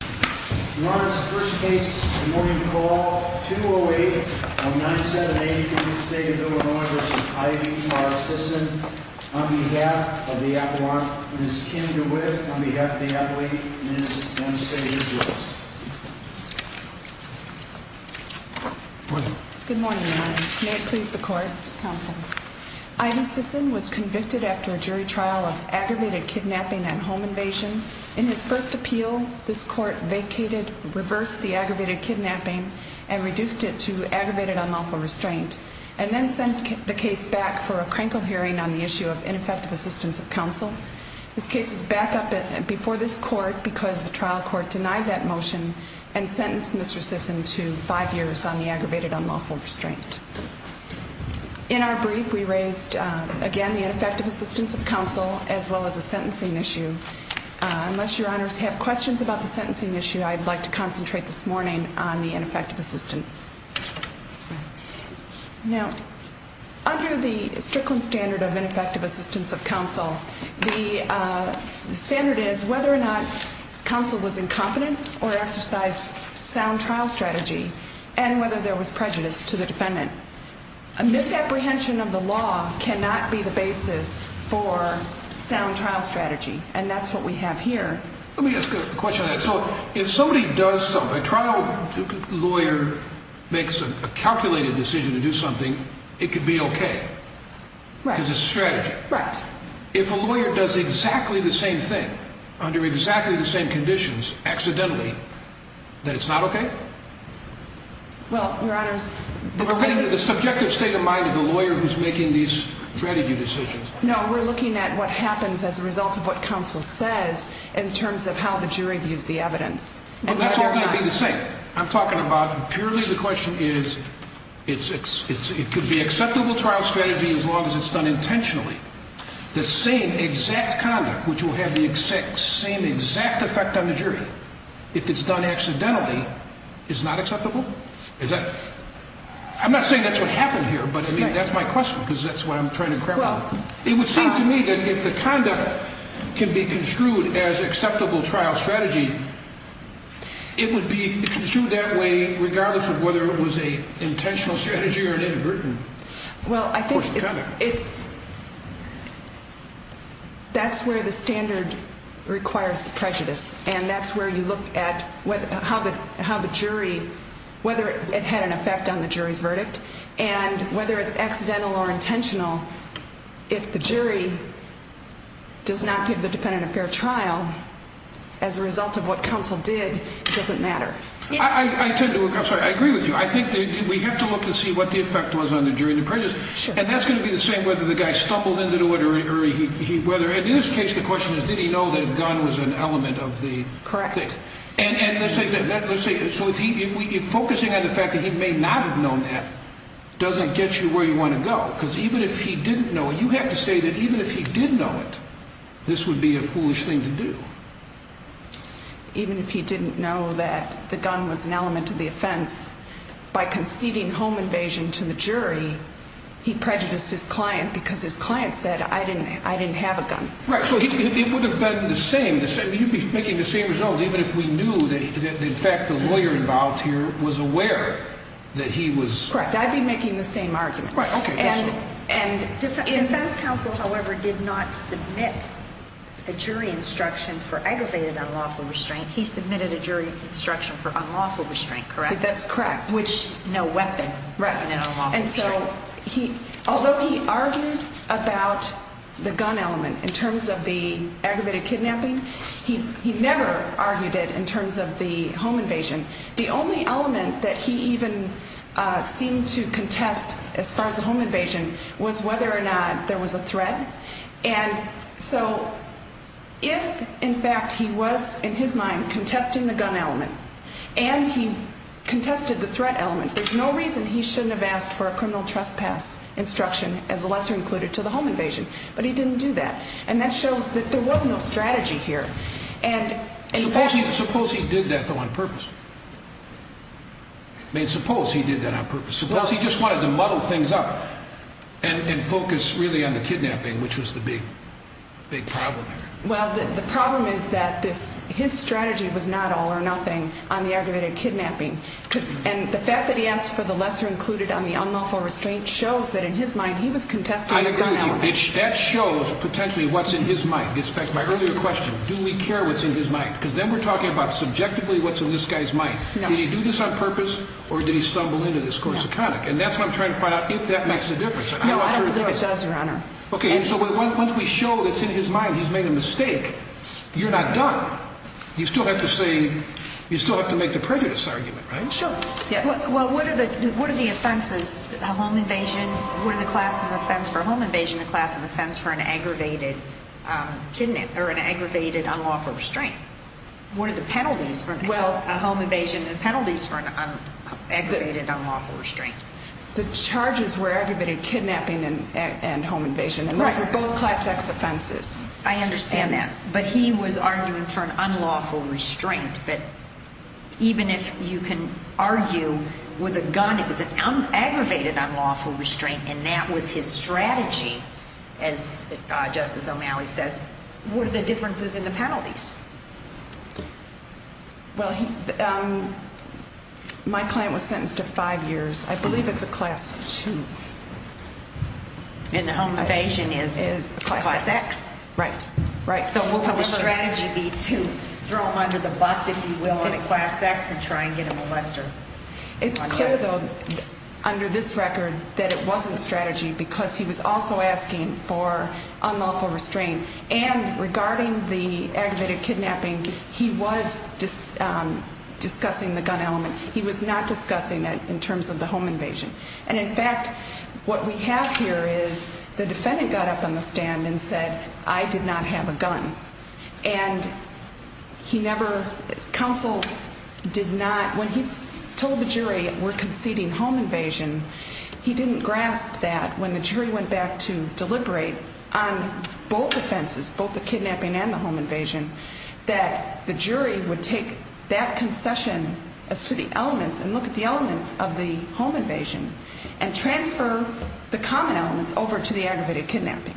Your Honor, this is the first case of the morning call, 208-978 from the state of Illinois v. Ida Sisson, on behalf of the appellant, Ms. Kim DeWitt, on behalf of the appellate, Ms. Ann Steger-Jones. Good morning, Your Honor. May it please the court. Ida Sisson was convicted after a jury trial of aggravated kidnapping and home invasion. In his first appeal, this court vacated, reversed the aggravated kidnapping and reduced it to aggravated unlawful restraint and then sent the case back for a crankle hearing on the issue of ineffective assistance of counsel. This case is back up before this court because the trial court denied that motion and sentenced Mr. Sisson to five years on the aggravated unlawful restraint. In our brief, we raised, again, the ineffective assistance of counsel as well as a sentencing issue. Unless Your Honors have questions about the sentencing issue, I'd like to concentrate this morning on the ineffective assistance. Now, under the Strickland standard of ineffective assistance of counsel, the standard is whether or not counsel was incompetent or exercised sound trial strategy and whether there was prejudice to the defendant. A misapprehension of the law cannot be the basis for sound trial strategy, and that's what we have here. Let me ask a question on that. So if somebody does something, a trial lawyer makes a calculated decision to do something, it could be okay. Right. Because it's a strategy. Right. If a lawyer does exactly the same thing under exactly the same conditions, accidentally, then it's not okay? Well, Your Honors... We're looking at the subjective state of mind of the lawyer who's making these strategy decisions. No, we're looking at what happens as a result of what counsel says in terms of how the jury views the evidence. Well, that's all going to be the same. I'm talking about purely the question is, it could be acceptable trial strategy as long as it's done intentionally. The same exact conduct, which will have the same exact effect on the jury, if it's done accidentally, is not acceptable? I'm not saying that's what happened here, but that's my question because that's what I'm trying to grapple with. It would seem to me that if the conduct can be construed as acceptable trial strategy, it would be construed that way regardless of whether it was an intentional strategy or inadvertent. Well, I think that's where the standard requires prejudice, and that's where you look at how the jury, whether it had an effect on the jury's verdict, and whether it's accidental or intentional, if the jury does not give the defendant a fair trial as a result of what counsel did, it doesn't matter. I agree with you. I think we have to look and see what the effect was on the jury and the prejudice, and that's going to be the same whether the guy stumbled into it or whether, and in this case the question is, did he know that a gun was an element of the thing? Correct. And let's say, so if focusing on the fact that he may not have known that doesn't get you where you want to go, because even if he didn't know, you have to say that even if he did know it, this would be a foolish thing to do. Even if he didn't know that the gun was an element of the offense, by conceding home invasion to the jury, he prejudiced his client because his client said, I didn't have a gun. Right, so it would have been the same, you'd be making the same result even if we knew that in fact the lawyer involved here was aware that he was... Correct, I'd be making the same argument. Right, okay. Defense counsel, however, did not submit a jury instruction for aggravated unlawful restraint. He submitted a jury instruction for unlawful restraint, correct? That's correct. Which, no weapon. Right. No unlawful restraint. And so, although he argued about the gun element in terms of the aggravated kidnapping, he never argued it in terms of the home invasion. The only element that he even seemed to contest as far as the home invasion was whether or not there was a threat. And so, if in fact he was, in his mind, contesting the gun element, and he contested the threat element, there's no reason he shouldn't have asked for a criminal trespass instruction as a lesser included to the home invasion. But he didn't do that. And that shows that there was no strategy here. Suppose he did that, though, on purpose. I mean, suppose he did that on purpose. Suppose he just wanted to muddle things up and focus, really, on the kidnapping, which was the big problem here. Well, the problem is that his strategy was not all or nothing on the aggravated kidnapping. And the fact that he asked for the lesser included on the unlawful restraint shows that, in his mind, he was contesting the gun element. I agree with you. That shows, potentially, what's in his mind. It gets back to my earlier question, do we care what's in his mind? Because then we're talking about, subjectively, what's in this guy's mind. Did he do this on purpose, or did he stumble into this course of conduct? And that's what I'm trying to find out, if that makes a difference. No, I don't believe it does, Your Honor. Okay, so once we show it's in his mind, he's made a mistake, you're not done. You still have to make the prejudice argument, right? Sure, yes. Well, what are the offenses, a home invasion? What are the classes of offense for a home invasion, the class of offense for an aggravated kidnapping, or an aggravated unlawful restraint? What are the penalties for a home invasion, the penalties for an aggravated unlawful restraint? The charges were aggravated kidnapping and home invasion, and those were both class X offenses. I understand that. But he was arguing for an unlawful restraint. But even if you can argue with a gun, it was an aggravated unlawful restraint, and that was his strategy, as Justice O'Malley says. What are the differences in the penalties? Well, my client was sentenced to five years. I believe it's a class two. And the home invasion is class X? Right. So what would the strategy be to throw him under the bus, if you will, on a class X and try and get a molester? It's clear, though, under this record, that it wasn't a strategy because he was also asking for unlawful restraint. And regarding the aggravated kidnapping, he was discussing the gun element. He was not discussing it in terms of the home invasion. And, in fact, what we have here is the defendant got up on the stand and said, I did not have a gun. And he never – counsel did not – when he told the jury we're conceding home invasion, he didn't grasp that when the jury went back to deliberate on both offenses, both the kidnapping and the home invasion, that the jury would take that concession as to the elements and look at the elements of the home invasion and transfer the common elements over to the aggravated kidnapping.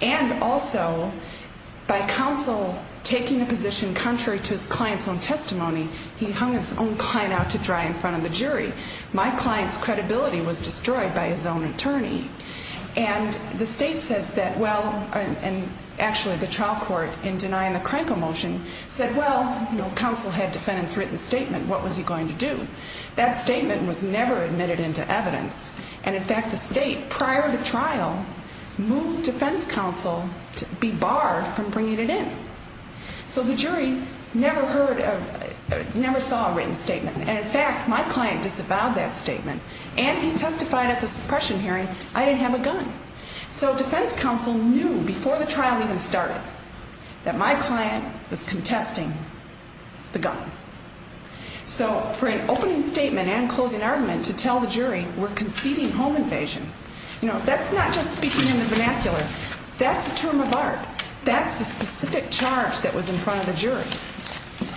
And also, by counsel taking a position contrary to his client's own testimony, he hung his own client out to dry in front of the jury. My client's credibility was destroyed by his own attorney. And the state says that – well, and actually the trial court, in denying the Krenko motion, said, well, counsel had defendants' written statement, what was he going to do? That statement was never admitted into evidence. And, in fact, the state, prior to trial, moved defense counsel to be barred from bringing it in. So the jury never heard – never saw a written statement. And, in fact, my client disavowed that statement, and he testified at the suppression hearing I didn't have a gun. So defense counsel knew before the trial even started that my client was contesting the gun. So for an opening statement and closing argument to tell the jury we're conceding home invasion, you know, that's not just speaking in the vernacular. That's a term of art. That's the specific charge that was in front of the jury.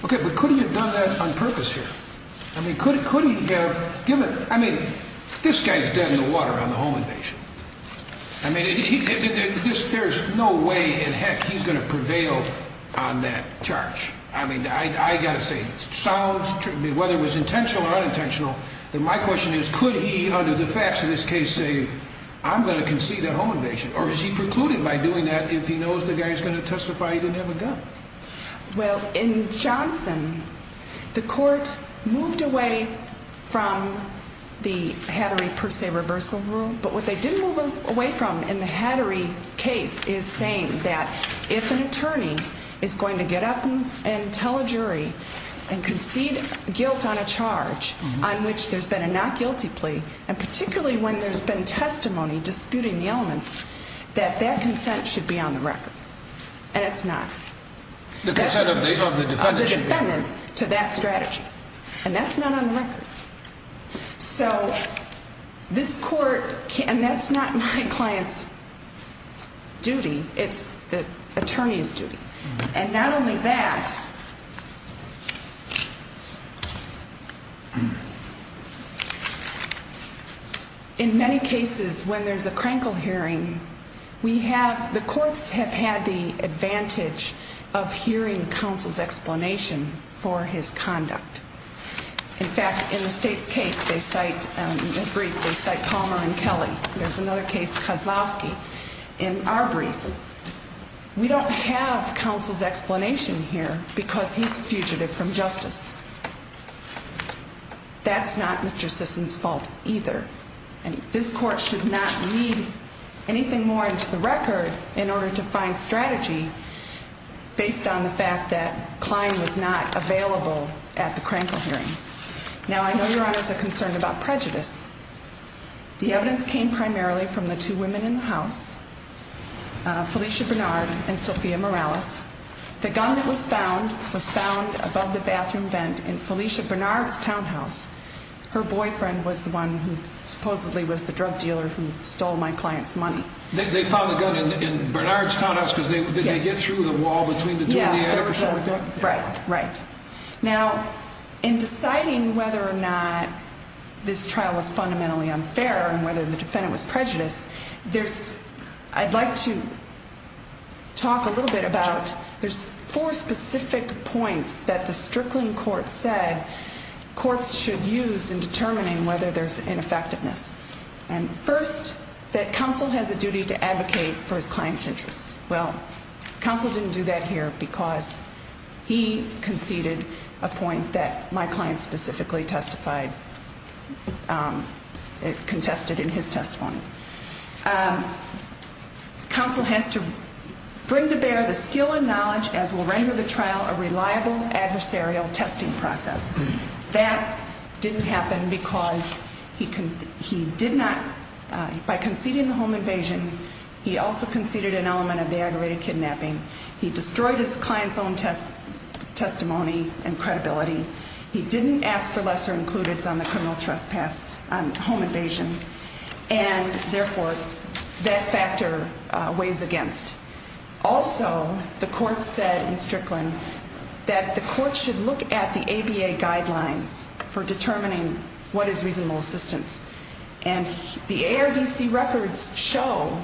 Okay, but could he have done that on purpose here? I mean, could he have given – I mean, this guy's dead in the water on the home invasion. I mean, there's no way in heck he's going to prevail on that charge. I mean, I've got to say, whether it was intentional or unintentional, my question is, could he, under the facts of this case, say, I'm going to concede that home invasion? Or is he precluded by doing that if he knows the guy's going to testify he didn't have a gun? Well, in Johnson, the court moved away from the Hattery per se reversal rule. But what they didn't move away from in the Hattery case is saying that if an attorney is going to get up and tell a jury and concede guilt on a charge on which there's been a not guilty plea, and particularly when there's been testimony disputing the elements, that that consent should be on the record. And it's not. The consent of the defendant should be on the record. Of the defendant to that strategy. And that's not on the record. So this court – and that's not my client's duty. It's the attorney's duty. And not only that, in many cases, when there's a Krankel hearing, the courts have had the advantage of hearing counsel's explanation for his conduct. In fact, in the state's case, they cite Palmer and Kelly. There's another case, Kozlowski. In our brief, we don't have counsel's explanation here because he's a fugitive from justice. That's not Mr. Sisson's fault either. And this court should not need anything more into the record in order to find strategy based on the fact that Klein was not available at the Krankel hearing. Now, I know Your Honors are concerned about prejudice. The evidence came primarily from the two women in the house, Felicia Bernard and Sophia Morales. The gun that was found was found above the bathroom vent in Felicia Bernard's townhouse. Her boyfriend was the one who supposedly was the drug dealer who stole my client's money. They found the gun in Bernard's townhouse because they get through the wall between the two. Right, right. Now, in deciding whether or not this trial was fundamentally unfair and whether the defendant was prejudiced, I'd like to talk a little bit about there's four specific points that the Strickland court said courts should use in determining whether there's ineffectiveness. First, that counsel has a duty to advocate for his client's interests. Well, counsel didn't do that here because he conceded a point that my client specifically testified, contested in his testimony. Counsel has to bring to bear the skill and knowledge as will render the trial a reliable adversarial testing process. That didn't happen because he did not, by conceding the home invasion, he also conceded an element of the aggravated kidnapping. He destroyed his client's own testimony and credibility. He didn't ask for lesser includes on the criminal trespass on home invasion. And, therefore, that factor weighs against. Also, the court said in Strickland that the court should look at the ABA guidelines for determining what is reasonable assistance. And the ARDC records show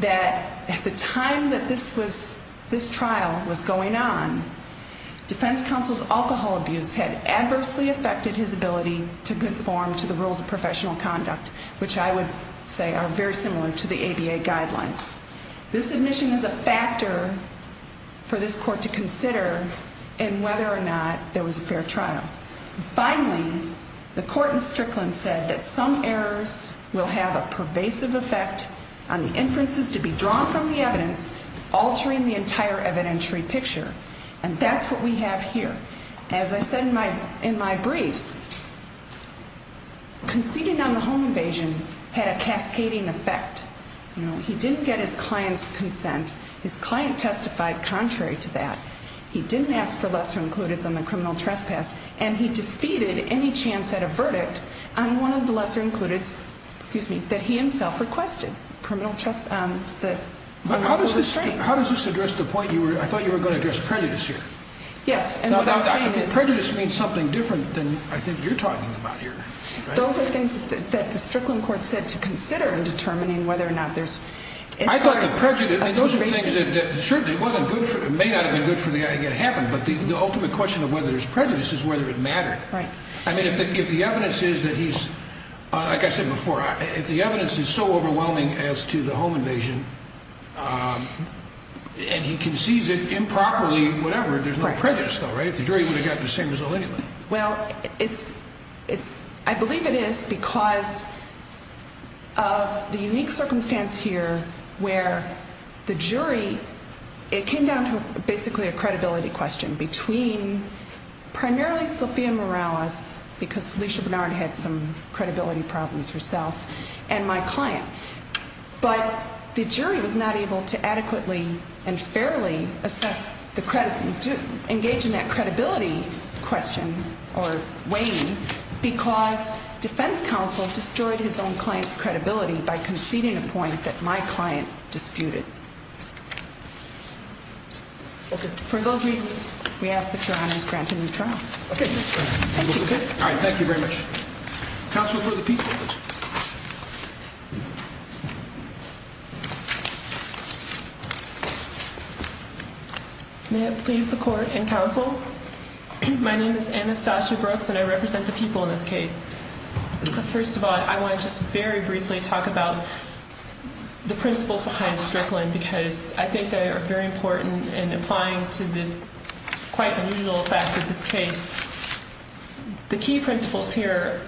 that at the time that this trial was going on, defense counsel's alcohol abuse had adversely affected his ability to conform to the rules of professional conduct, which I would say are very similar to the ABA guidelines. This admission is a factor for this court to consider in whether or not there was a fair trial. Finally, the court in Strickland said that some errors will have a pervasive effect on the inferences to be drawn from the evidence, altering the entire evidentiary picture. And that's what we have here. As I said in my briefs, conceding on the home invasion had a cascading effect. He didn't get his client's consent. His client testified contrary to that. He didn't ask for lesser includes on the criminal trespass, and he defeated any chance at a verdict on one of the lesser includes that he himself requested. How does this address the point? I thought you were going to address prejudice here. Yes, and what I'm saying is Prejudice means something different than I think you're talking about here. Those are things that the Strickland court said to consider in determining whether or not there's I thought the prejudice, those are things that certainly may not have been good for the guy to get it happened, but the ultimate question of whether there's prejudice is whether it mattered. Right. I mean, if the evidence is that he's, like I said before, if the evidence is so overwhelming as to the home invasion, and he concedes it improperly, whatever, there's no prejudice though, right? If the jury would have gotten the same result anyway. Well, I believe it is because of the unique circumstance here where the jury, it came down to basically a credibility question between primarily Sophia Morales, because Felicia Bernard had some credibility problems herself, and my client. But the jury was not able to adequately and fairly assess the credibility, to engage in that credibility question or weighing, because defense counsel destroyed his own client's credibility by conceding a point that my client disputed. Okay. For those reasons, we ask that your honor is granted new trial. Okay. Thank you. All right, thank you very much. Counsel for the people. May it please the court and counsel. My name is Anastasia Brooks, and I represent the people in this case. First of all, I want to just very briefly talk about the principles behind Strickland, because I think they are very important in applying to the quite unusual facts of this case. The key principles here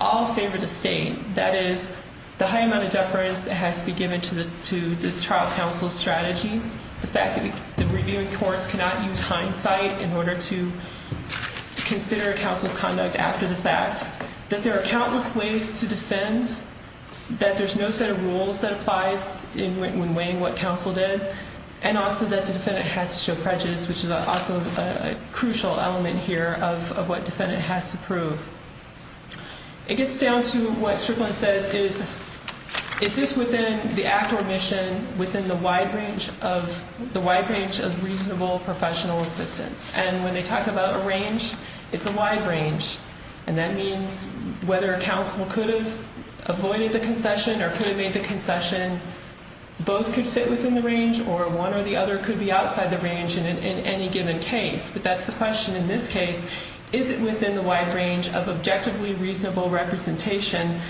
all favor the state. That is, the high amount of deference that has to be given to the trial counsel's strategy, the fact that the reviewing courts cannot use hindsight in order to consider a counsel's conduct after the facts, that there are countless ways to defend, that there's no set of rules that applies when weighing what counsel did, and also that the defendant has to show prejudice, which is also a crucial element here of what defendant has to prove. It gets down to what Strickland says is, is this within the act or mission within the wide range of reasonable professional assistance? And when they talk about a range, it's a wide range. And that means whether counsel could have avoided the concession or could have made the concession, both could fit within the range or one or the other could be outside the range in any given case. But that's the question in this case. Is it within the wide range of objectively reasonable representation?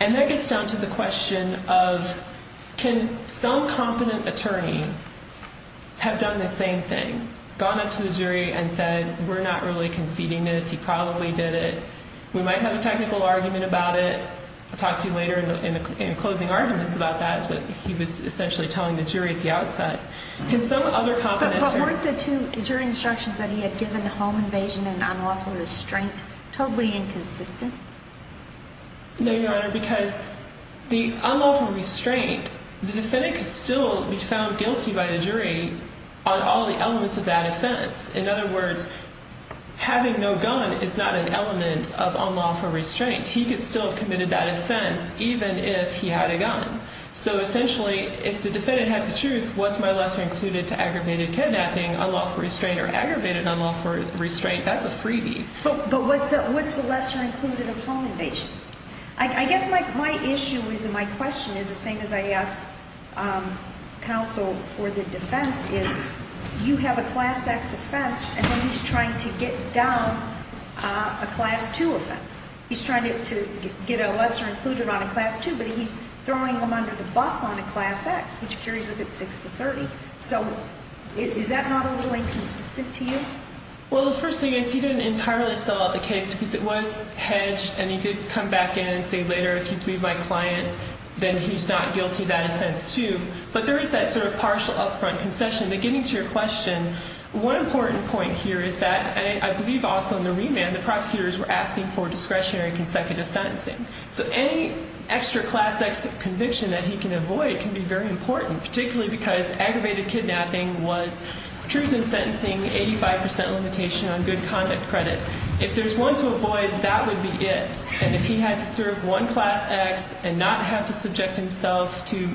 And that gets down to the question of can some competent attorney have done the same thing, gone up to the jury and said, we're not really conceding this. He probably did it. We might have a technical argument about it. I'll talk to you later in closing arguments about that. But he was essentially telling the jury at the outside. Can some other competent attorney... But weren't the two jury instructions that he had given, home invasion and unlawful restraint, totally inconsistent? No, Your Honor, because the unlawful restraint, the defendant could still be found guilty by the jury on all the elements of that offense. In other words, having no gun is not an element of unlawful restraint. He could still have committed that offense even if he had a gun. So essentially, if the defendant has to choose, what's my lesser included to aggravated kidnapping, unlawful restraint, or aggravated unlawful restraint, that's a freebie. But what's the lesser included of home invasion? I guess my issue is and my question is the same as I ask counsel for the defense is, you have a class X offense and then he's trying to get down a class 2 offense. He's trying to get a lesser included on a class 2, but he's throwing him under the bus on a class X, which carries with it 6 to 30. So is that not a little inconsistent to you? Well, the first thing is he didn't entirely sell out the case because it was hedged and he did come back in and say later, if you plead my client, then he's not guilty of that offense too. But there is that sort of partial upfront concession. But getting to your question, one important point here is that I believe also in the remand, the prosecutors were asking for discretionary consecutive sentencing. So any extra class X conviction that he can avoid can be very important, particularly because aggravated kidnapping was truth in sentencing, 85 percent limitation on good conduct credit. If there's one to avoid, that would be it. And if he had to serve one class X and not have to subject himself to,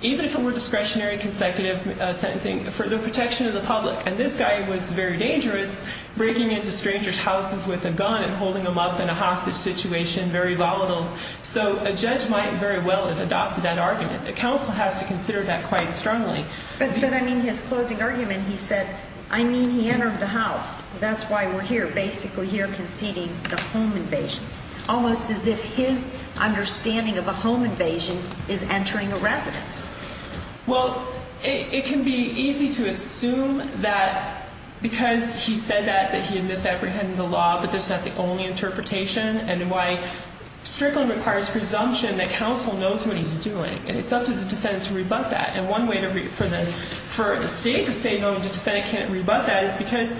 even if it were discretionary consecutive sentencing, for the protection of the public. And this guy was very dangerous, breaking into strangers' houses with a gun and holding them up in a hostage situation, very volatile. So a judge might very well have adopted that argument. A counsel has to consider that quite strongly. But then, I mean, his closing argument, he said, I mean, he entered the house. That's why we're here, basically here conceding the home invasion. Almost as if his understanding of a home invasion is entering a residence. Well, it can be easy to assume that because he said that, that he had misapprehended the law, but that's not the only interpretation and why strictly requires presumption that counsel knows what he's doing. And it's up to the defendant to rebut that. And one way for the state to say, no, the defendant can't rebut that, is because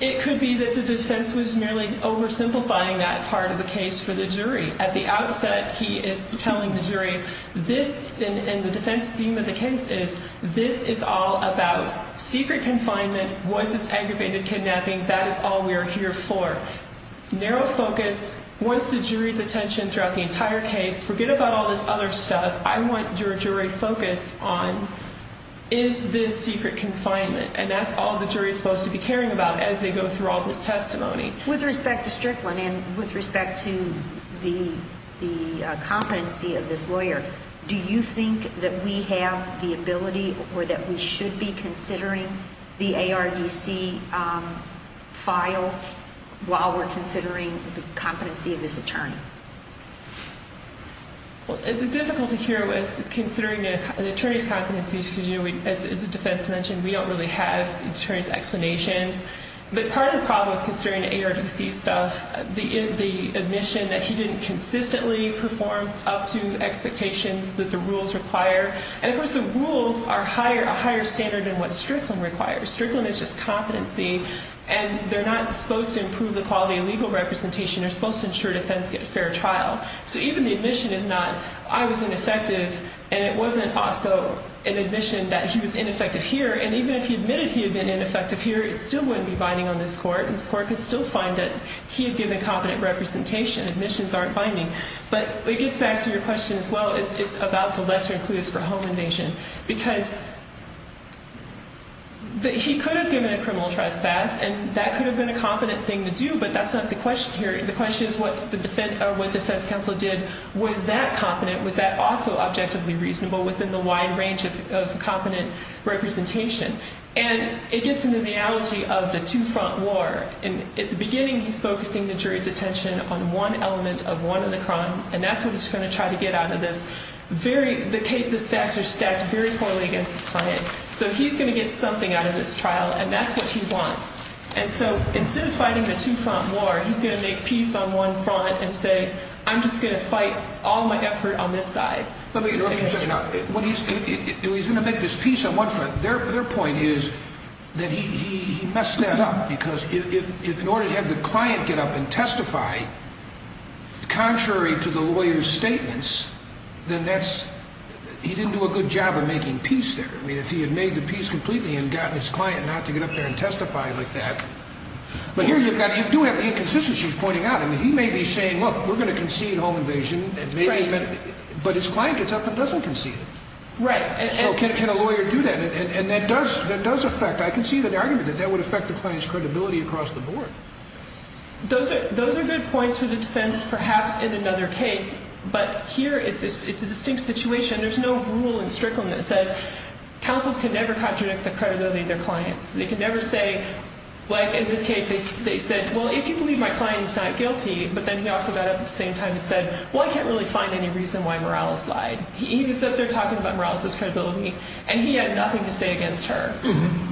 it could be that the defense was merely oversimplifying that part of the case for the jury. At the outset, he is telling the jury, this, and the defense theme of the case is, this is all about secret confinement, was this aggravated kidnapping, that is all we are here for. Narrow focus wants the jury's attention throughout the entire case. Forget about all this other stuff. I want your jury focused on, is this secret confinement? And that's all the jury is supposed to be caring about as they go through all this testimony. With respect to Strickland and with respect to the competency of this lawyer, do you think that we have the ability or that we should be considering the ARDC file Well, it's difficult to hear with considering the attorney's competencies, because as the defense mentioned, we don't really have attorney's explanations. But part of the problem with considering the ARDC stuff, the admission that he didn't consistently perform up to expectations that the rules require. And, of course, the rules are a higher standard than what Strickland requires. Strickland is just competency, and they're not supposed to improve the quality of legal representation. They're supposed to ensure defense get a fair trial. So even the admission is not, I was ineffective. And it wasn't also an admission that he was ineffective here. And even if he admitted he had been ineffective here, it still wouldn't be binding on this court. And this court could still find that he had given competent representation. Admissions aren't binding. But it gets back to your question as well. It's about the lesser includes for home invasion. Because he could have given a criminal trespass, and that could have been a competent thing to do. But that's not the question here. The question is what defense counsel did. Was that competent? Was that also objectively reasonable within the wide range of competent representation? And it gets into the analogy of the two-front war. And at the beginning, he's focusing the jury's attention on one element of one of the crimes. And that's what he's going to try to get out of this. The facts are stacked very poorly against his client. So he's going to get something out of this trial. And that's what he wants. And so instead of fighting the two-front war, he's going to make peace on one front and say, I'm just going to fight all my effort on this side. Let me finish up. When he's going to make this peace on one front, their point is that he messed that up. Because if in order to have the client get up and testify contrary to the lawyer's statements, then that's he didn't do a good job of making peace there. I mean, if he had made the peace completely and gotten his client not to get up there and testify like that. But here you do have the inconsistencies he's pointing out. I mean, he may be saying, look, we're going to concede home invasion. But his client gets up and doesn't concede it. Right. So can a lawyer do that? And that does affect. I can see the argument that that would affect the client's credibility across the board. Those are good points for the defense perhaps in another case. But here it's a distinct situation. There's no rule in Strickland that says counsels can never contradict the credibility of their clients. They can never say, like in this case, they said, well, if you believe my client is not guilty, but then he also got up at the same time and said, well, I can't really find any reason why Morales lied. He was up there talking about Morales' credibility, and he had nothing to say against her.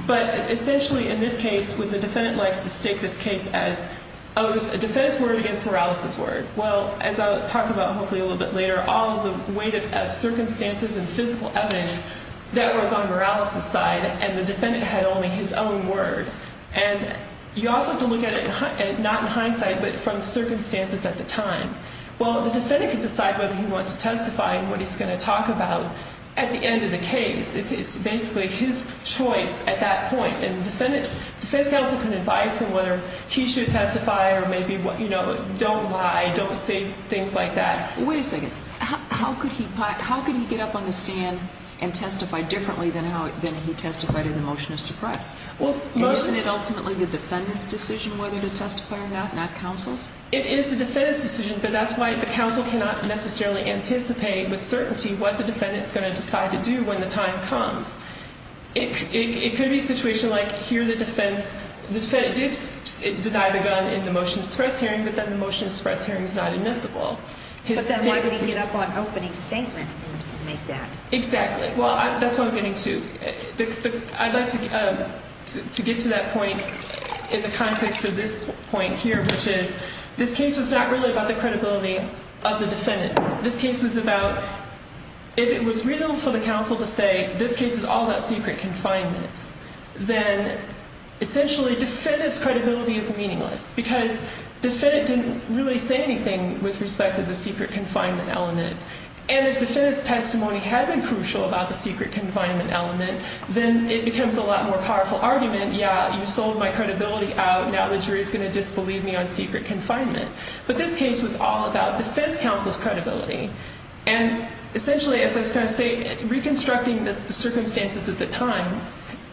But essentially in this case, the defendant likes to state this case as a defense word against Morales' word. Well, as I'll talk about hopefully a little bit later, all the weight of circumstances and physical evidence, that was on Morales' side, and the defendant had only his own word. And you also have to look at it not in hindsight, but from circumstances at the time. Well, the defendant can decide whether he wants to testify and what he's going to talk about at the end of the case. It's basically his choice at that point. And the defense counsel can advise him whether he should testify or maybe, you know, don't lie, don't say things like that. Wait a second. How could he get up on the stand and testify differently than he testified in the motion of suppress? Isn't it ultimately the defendant's decision whether to testify or not, not counsel's? It is the defendant's decision, but that's why the counsel cannot necessarily anticipate with certainty what the defendant is going to decide to do when the time comes. It could be a situation like here the defense did deny the gun in the motion of suppress hearing, but then the motion of suppress hearing is not admissible. But then why would he get up on opening statement and make that? Exactly. Well, that's what I'm getting to. I'd like to get to that point in the context of this point here, which is this case was not really about the credibility of the defendant. This case was about if it was reasonable for the counsel to say this case is all about secret confinement, then essentially defendant's credibility is meaningless. Because defendant didn't really say anything with respect to the secret confinement element. And if defendant's testimony had been crucial about the secret confinement element, then it becomes a lot more powerful argument. Yeah, you sold my credibility out. Now the jury is going to disbelieve me on secret confinement. But this case was all about defense counsel's credibility. And essentially, as I was going to say, reconstructing the circumstances at the time,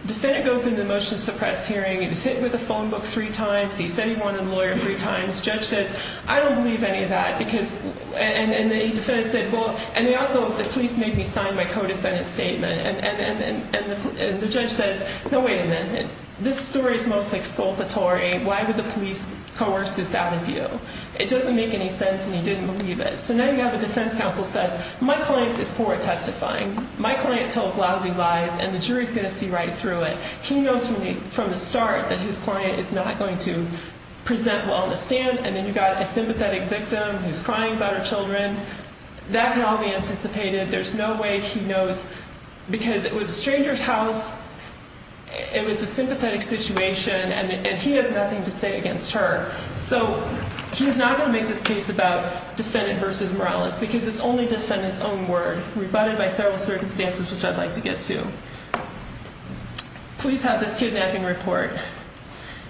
defendant goes into the motion of suppress hearing. He was hit with a phone book three times. He said he wanted a lawyer three times. Judge says, I don't believe any of that. And the defendant said, well, and they also, the police made me sign my co-defendant statement. And the judge says, no, wait a minute. This story is most exculpatory. Why would the police coerce this out of you? It doesn't make any sense. And he didn't believe it. So now you have a defense counsel says, my client is poor at testifying. My client tells lousy lies. And the jury is going to see right through it. He knows from the start that his client is not going to present well on the stand. And then you've got a sympathetic victim who's crying about her children. That can all be anticipated. There's no way he knows. Because it was a stranger's house. It was a sympathetic situation. And he has nothing to say against her. So he's not going to make this case about defendant versus Morales. Because it's only defendant's own word. Rebutted by several circumstances, which I'd like to get to. Police have this kidnapping report.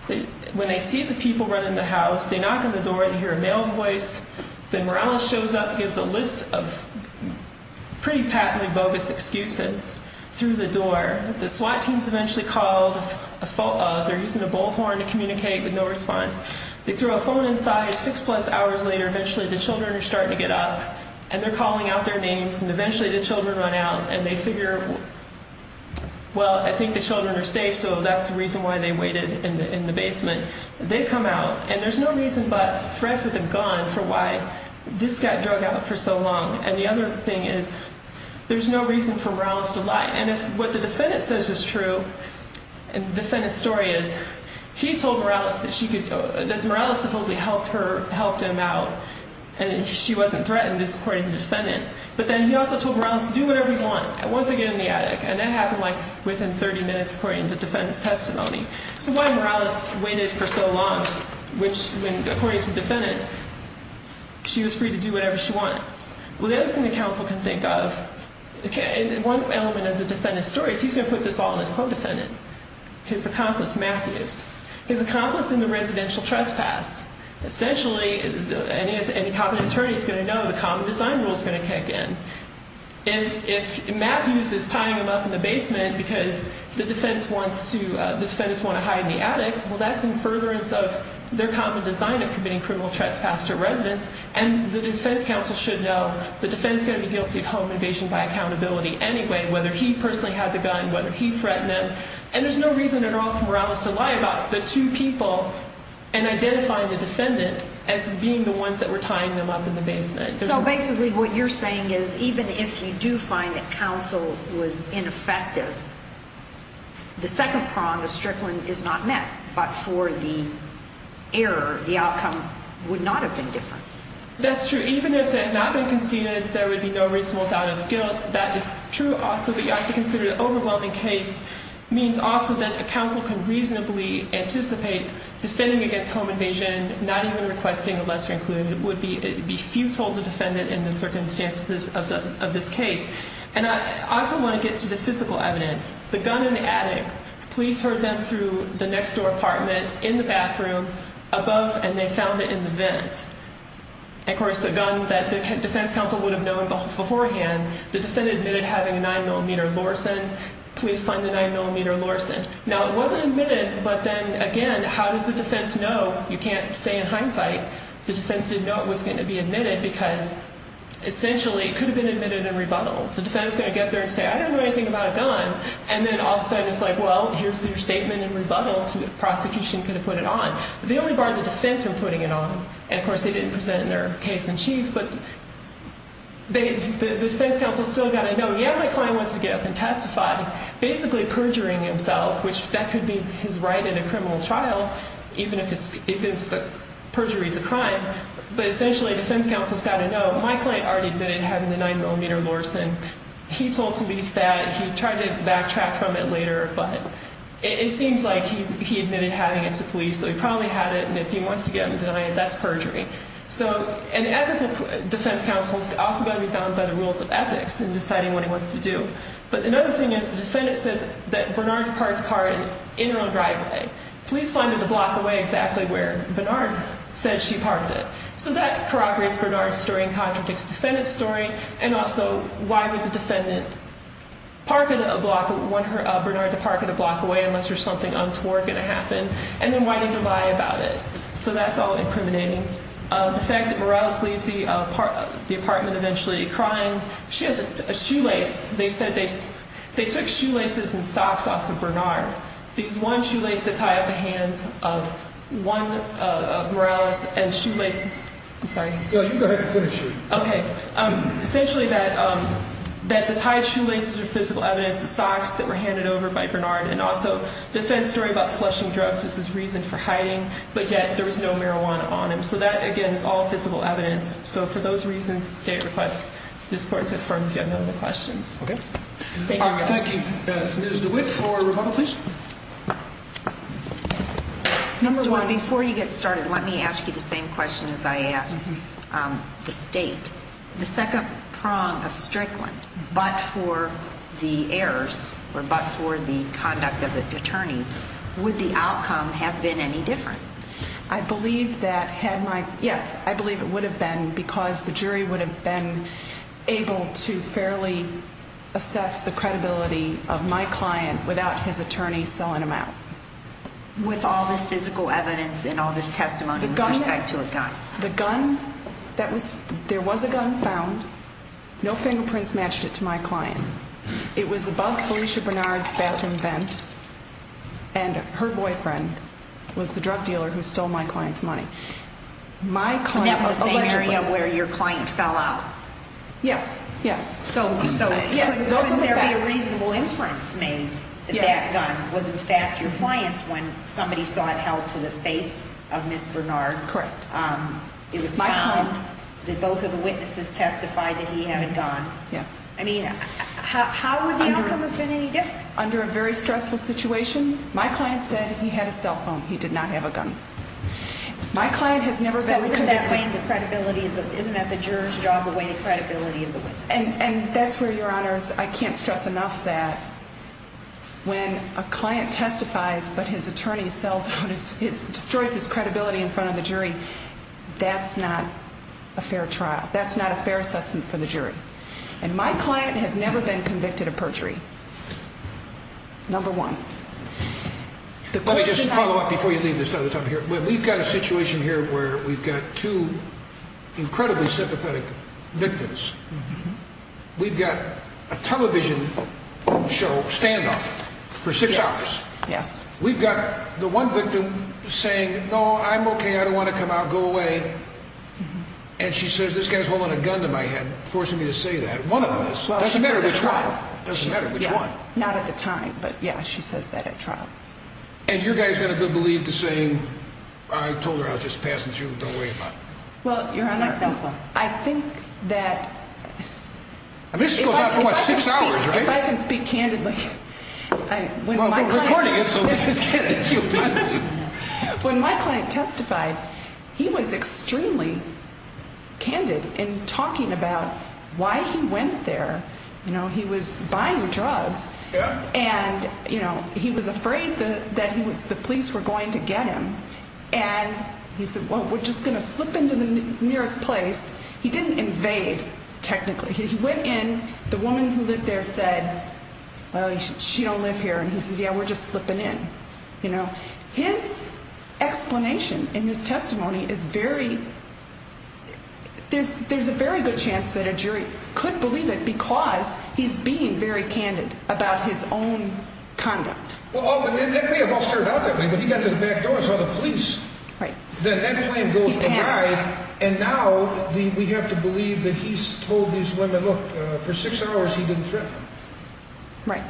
When they see the people running the house, they knock on the door and hear a male voice. Then Morales shows up and gives a list of pretty patently bogus excuses through the door. The SWAT team is eventually called. They're using a bullhorn to communicate with no response. They throw a phone inside. Six-plus hours later, eventually the children are starting to get up. And they're calling out their names. And eventually the children run out. And they figure, well, I think the children are safe. So that's the reason why they waited in the basement. They come out. And there's no reason but threats with a gun for why this got drug out for so long. And the other thing is there's no reason for Morales to lie. And if what the defendant says was true, and the defendant's story is, he told Morales that Morales supposedly helped him out. And she wasn't threatened, according to the defendant. But then he also told Morales to do whatever he wanted. And once again in the attic. And that happened within 30 minutes, according to the defendant's testimony. So why did Morales wait for so long? Which, according to the defendant, she was free to do whatever she wanted. Well, the other thing the counsel can think of, one element of the defendant's story is he's going to put this all on his co-defendant, his accomplice, Matthews, his accomplice in the residential trespass. Essentially, any competent attorney is going to know the common design rule is going to kick in. If Matthews is tying him up in the basement because the defendants want to hide in the attic, well, that's in furtherance of their common design of committing criminal trespass to a residence. And the defense counsel should know the defense is going to be guilty of home invasion by accountability anyway, whether he personally had the gun, whether he threatened them. And there's no reason at all for Morales to lie about the two people and identifying the defendant as being the ones that were tying them up in the basement. So basically what you're saying is even if you do find that counsel was ineffective, the second prong of Strickland is not met. But for the error, the outcome would not have been different. That's true. Even if it had not been conceded, there would be no reasonable doubt of guilt. That is true also. But you have to consider the overwhelming case means also that a counsel can reasonably anticipate defending against home invasion, not even requesting a lesser included, would be futile to defend it in the circumstances of this case. And I also want to get to the physical evidence. The gun in the attic. The police heard them through the next door apartment, in the bathroom, above, and they found it in the vent. Of course, the gun that the defense counsel would have known beforehand, the defendant admitted having a 9mm Lorsen. Police find the 9mm Lorsen. Now, it wasn't admitted, but then again, how does the defense know? You can't say in hindsight the defense didn't know it was going to be admitted because essentially it could have been admitted in rebuttal. The defense is going to get there and say, I don't know anything about a gun, and then all of a sudden it's like, well, here's your statement in rebuttal. The prosecution could have put it on. The only bar the defense from putting it on, and of course they didn't present it in their case in chief, but the defense counsel has still got to know, yeah, my client wants to get up and testify, basically perjuring himself, which that could be his right in a criminal trial, even if perjury is a crime. But essentially the defense counsel has got to know, well, my client already admitted having the 9mm Lorsen. He told police that. He tried to backtrack from it later, but it seems like he admitted having it to police, so he probably had it, and if he wants to get them to deny it, that's perjury. So an ethical defense counsel has also got to be bound by the rules of ethics in deciding what he wants to do. But another thing is the defendant says that Bernard parked the car in an on-drive way. Police find it a block away exactly where Bernard said she parked it. So that corroborates Bernard's story and contradicts the defendant's story, and also why would the defendant park it a block away, want Bernard to park it a block away unless there's something untoward going to happen, and then why did he lie about it? So that's all incriminating. The fact that Morales leaves the apartment eventually crying, she has a shoelace. They said they took shoelaces and socks off of Bernard. These one shoelace that tie up the hands of one of Morales and shoelace. I'm sorry. No, you go ahead and finish. Okay. Essentially that the tied shoelaces are physical evidence, the socks that were handed over by Bernard, and also the defense story about flushing drugs is his reason for hiding, but yet there was no marijuana on him. So that, again, is all physical evidence. So for those reasons, the state requests this court to affirm if you have no other questions. Okay. Thank you. Thank you. Ms. DeWitt for rebuttal, please. Ms. DeWitt, before you get started, let me ask you the same question as I asked the state. The second prong of Strickland, but for the errors or but for the conduct of the attorney, would the outcome have been any different? I believe that had my, yes, I believe it would have been because the jury would have been able to fairly assess the credibility of my client without his attorney selling him out. With all this physical evidence and all this testimony with respect to a gun. The gun, there was a gun found. No fingerprints matched it to my client. It was above Felicia Bernard's bathroom vent, and her boyfriend was the drug dealer who stole my client's money. So that was the same area where your client fell out? Yes. Yes. So, yes, those are the facts. Couldn't there be a reasonable inference made that that gun was in fact your client's when somebody saw it held to the face of Ms. Bernard? Correct. It was found that both of the witnesses testified that he had a gun. Yes. I mean, how would the outcome have been any different? He did not have a gun. My client has never been convicted. Isn't that the juror's job to weigh the credibility of the witness? And that's where, Your Honors, I can't stress enough that when a client testifies but his attorney destroys his credibility in front of the jury, that's not a fair trial. That's not a fair assessment for the jury. And my client has never been convicted of perjury, number one. Let me just follow up before you leave this other topic here. We've got a situation here where we've got two incredibly sympathetic victims. We've got a television show standoff for six hours. Yes. We've got the one victim saying, No, I'm okay. I don't want to come out. Go away. And she says, This guy's holding a gun to my head, forcing me to say that. One of them is. Doesn't matter which one. Doesn't matter which one. Not at the time. But, yeah, she says that at trial. And your guy's going to believe the same. I told her I was just passing through. Don't worry about it. Well, Your Honor, I think that. I mean, this goes on for, what, six hours, right? If I can speak candidly. Well, we're recording it, so. When my client testified, he was extremely candid in talking about why he went there. You know, he was buying drugs. And, you know, he was afraid that the police were going to get him. And he said, Well, we're just going to slip into the nearest place. He didn't invade technically. He went in. The woman who lived there said, Well, she don't live here. And he says, Yeah, we're just slipping in. You know, his explanation in his testimony is very. There's a very good chance that a jury could believe it because he's being very candid about his own conduct. Well, that may have all started out that way. But he got to the back door and saw the police. Then that claim goes awry. And now we have to believe that he's told these women, Look, for six hours, he didn't threaten them. Right.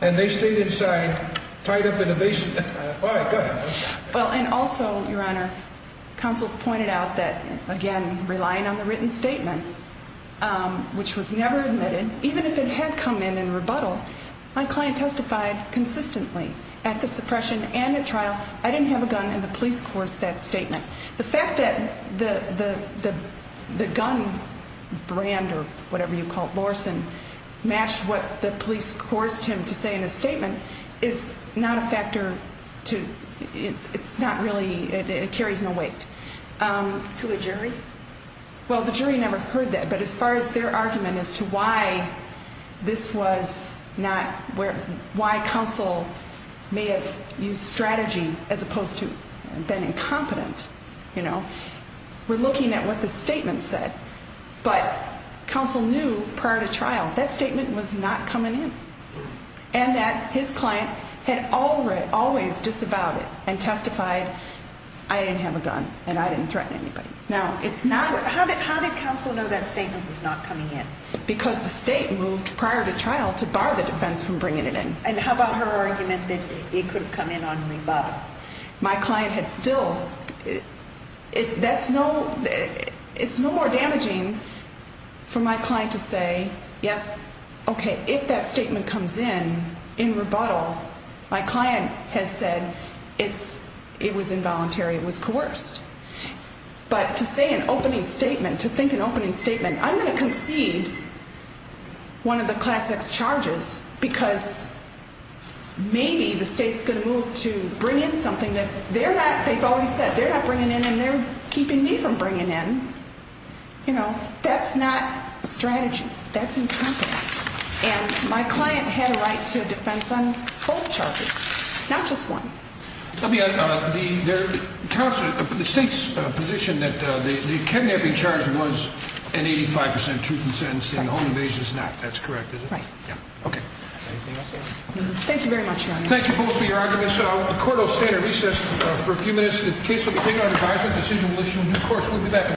And they stayed inside, tied up in a basement. All right, go ahead. Well, and also, Your Honor, counsel pointed out that, again, relying on the written statement, which was never admitted, even if it had come in in rebuttal. My client testified consistently at the suppression and the trial. I didn't have a gun in the police course. That statement. The fact that the gun brand or whatever you call it, Lorson, matched what the police forced him to say in a statement is not a factor to. It's not really. It carries no weight to a jury. Well, the jury never heard that. But as far as their argument as to why this was not where why counsel may have used strategy as opposed to been incompetent, you know, we're looking at what the statement said. But counsel knew prior to trial that statement was not coming in. And that his client had already always disavowed it and testified. I didn't have a gun and I didn't threaten anybody. Now, it's not. How did counsel know that statement was not coming in? Because the state moved prior to trial to bar the defense from bringing it in. And how about her argument that it could have come in on rebuttal? My client had still. That's no. It's no more damaging for my client to say, yes, OK, if that statement comes in in rebuttal, my client has said it's it was involuntary. It was coerced. But to say an opening statement, to think an opening statement, I'm going to concede. One of the classics charges, because maybe the state's going to move to bring in something that they're not. They've already said they're not bringing in and they're keeping me from bringing in. You know, that's not strategy. That's incompetence. And my client had a right to a defense on both charges, not just one. The state's position that the cadenary charge was an 85 percent truth in sentence and the home invasion is not. That's correct, is it? Right. OK. Thank you very much, Your Honor. Thank you both for your arguments. The court will stand at recess for a few minutes. The case will be taken on advisement. Decision will issue a new court.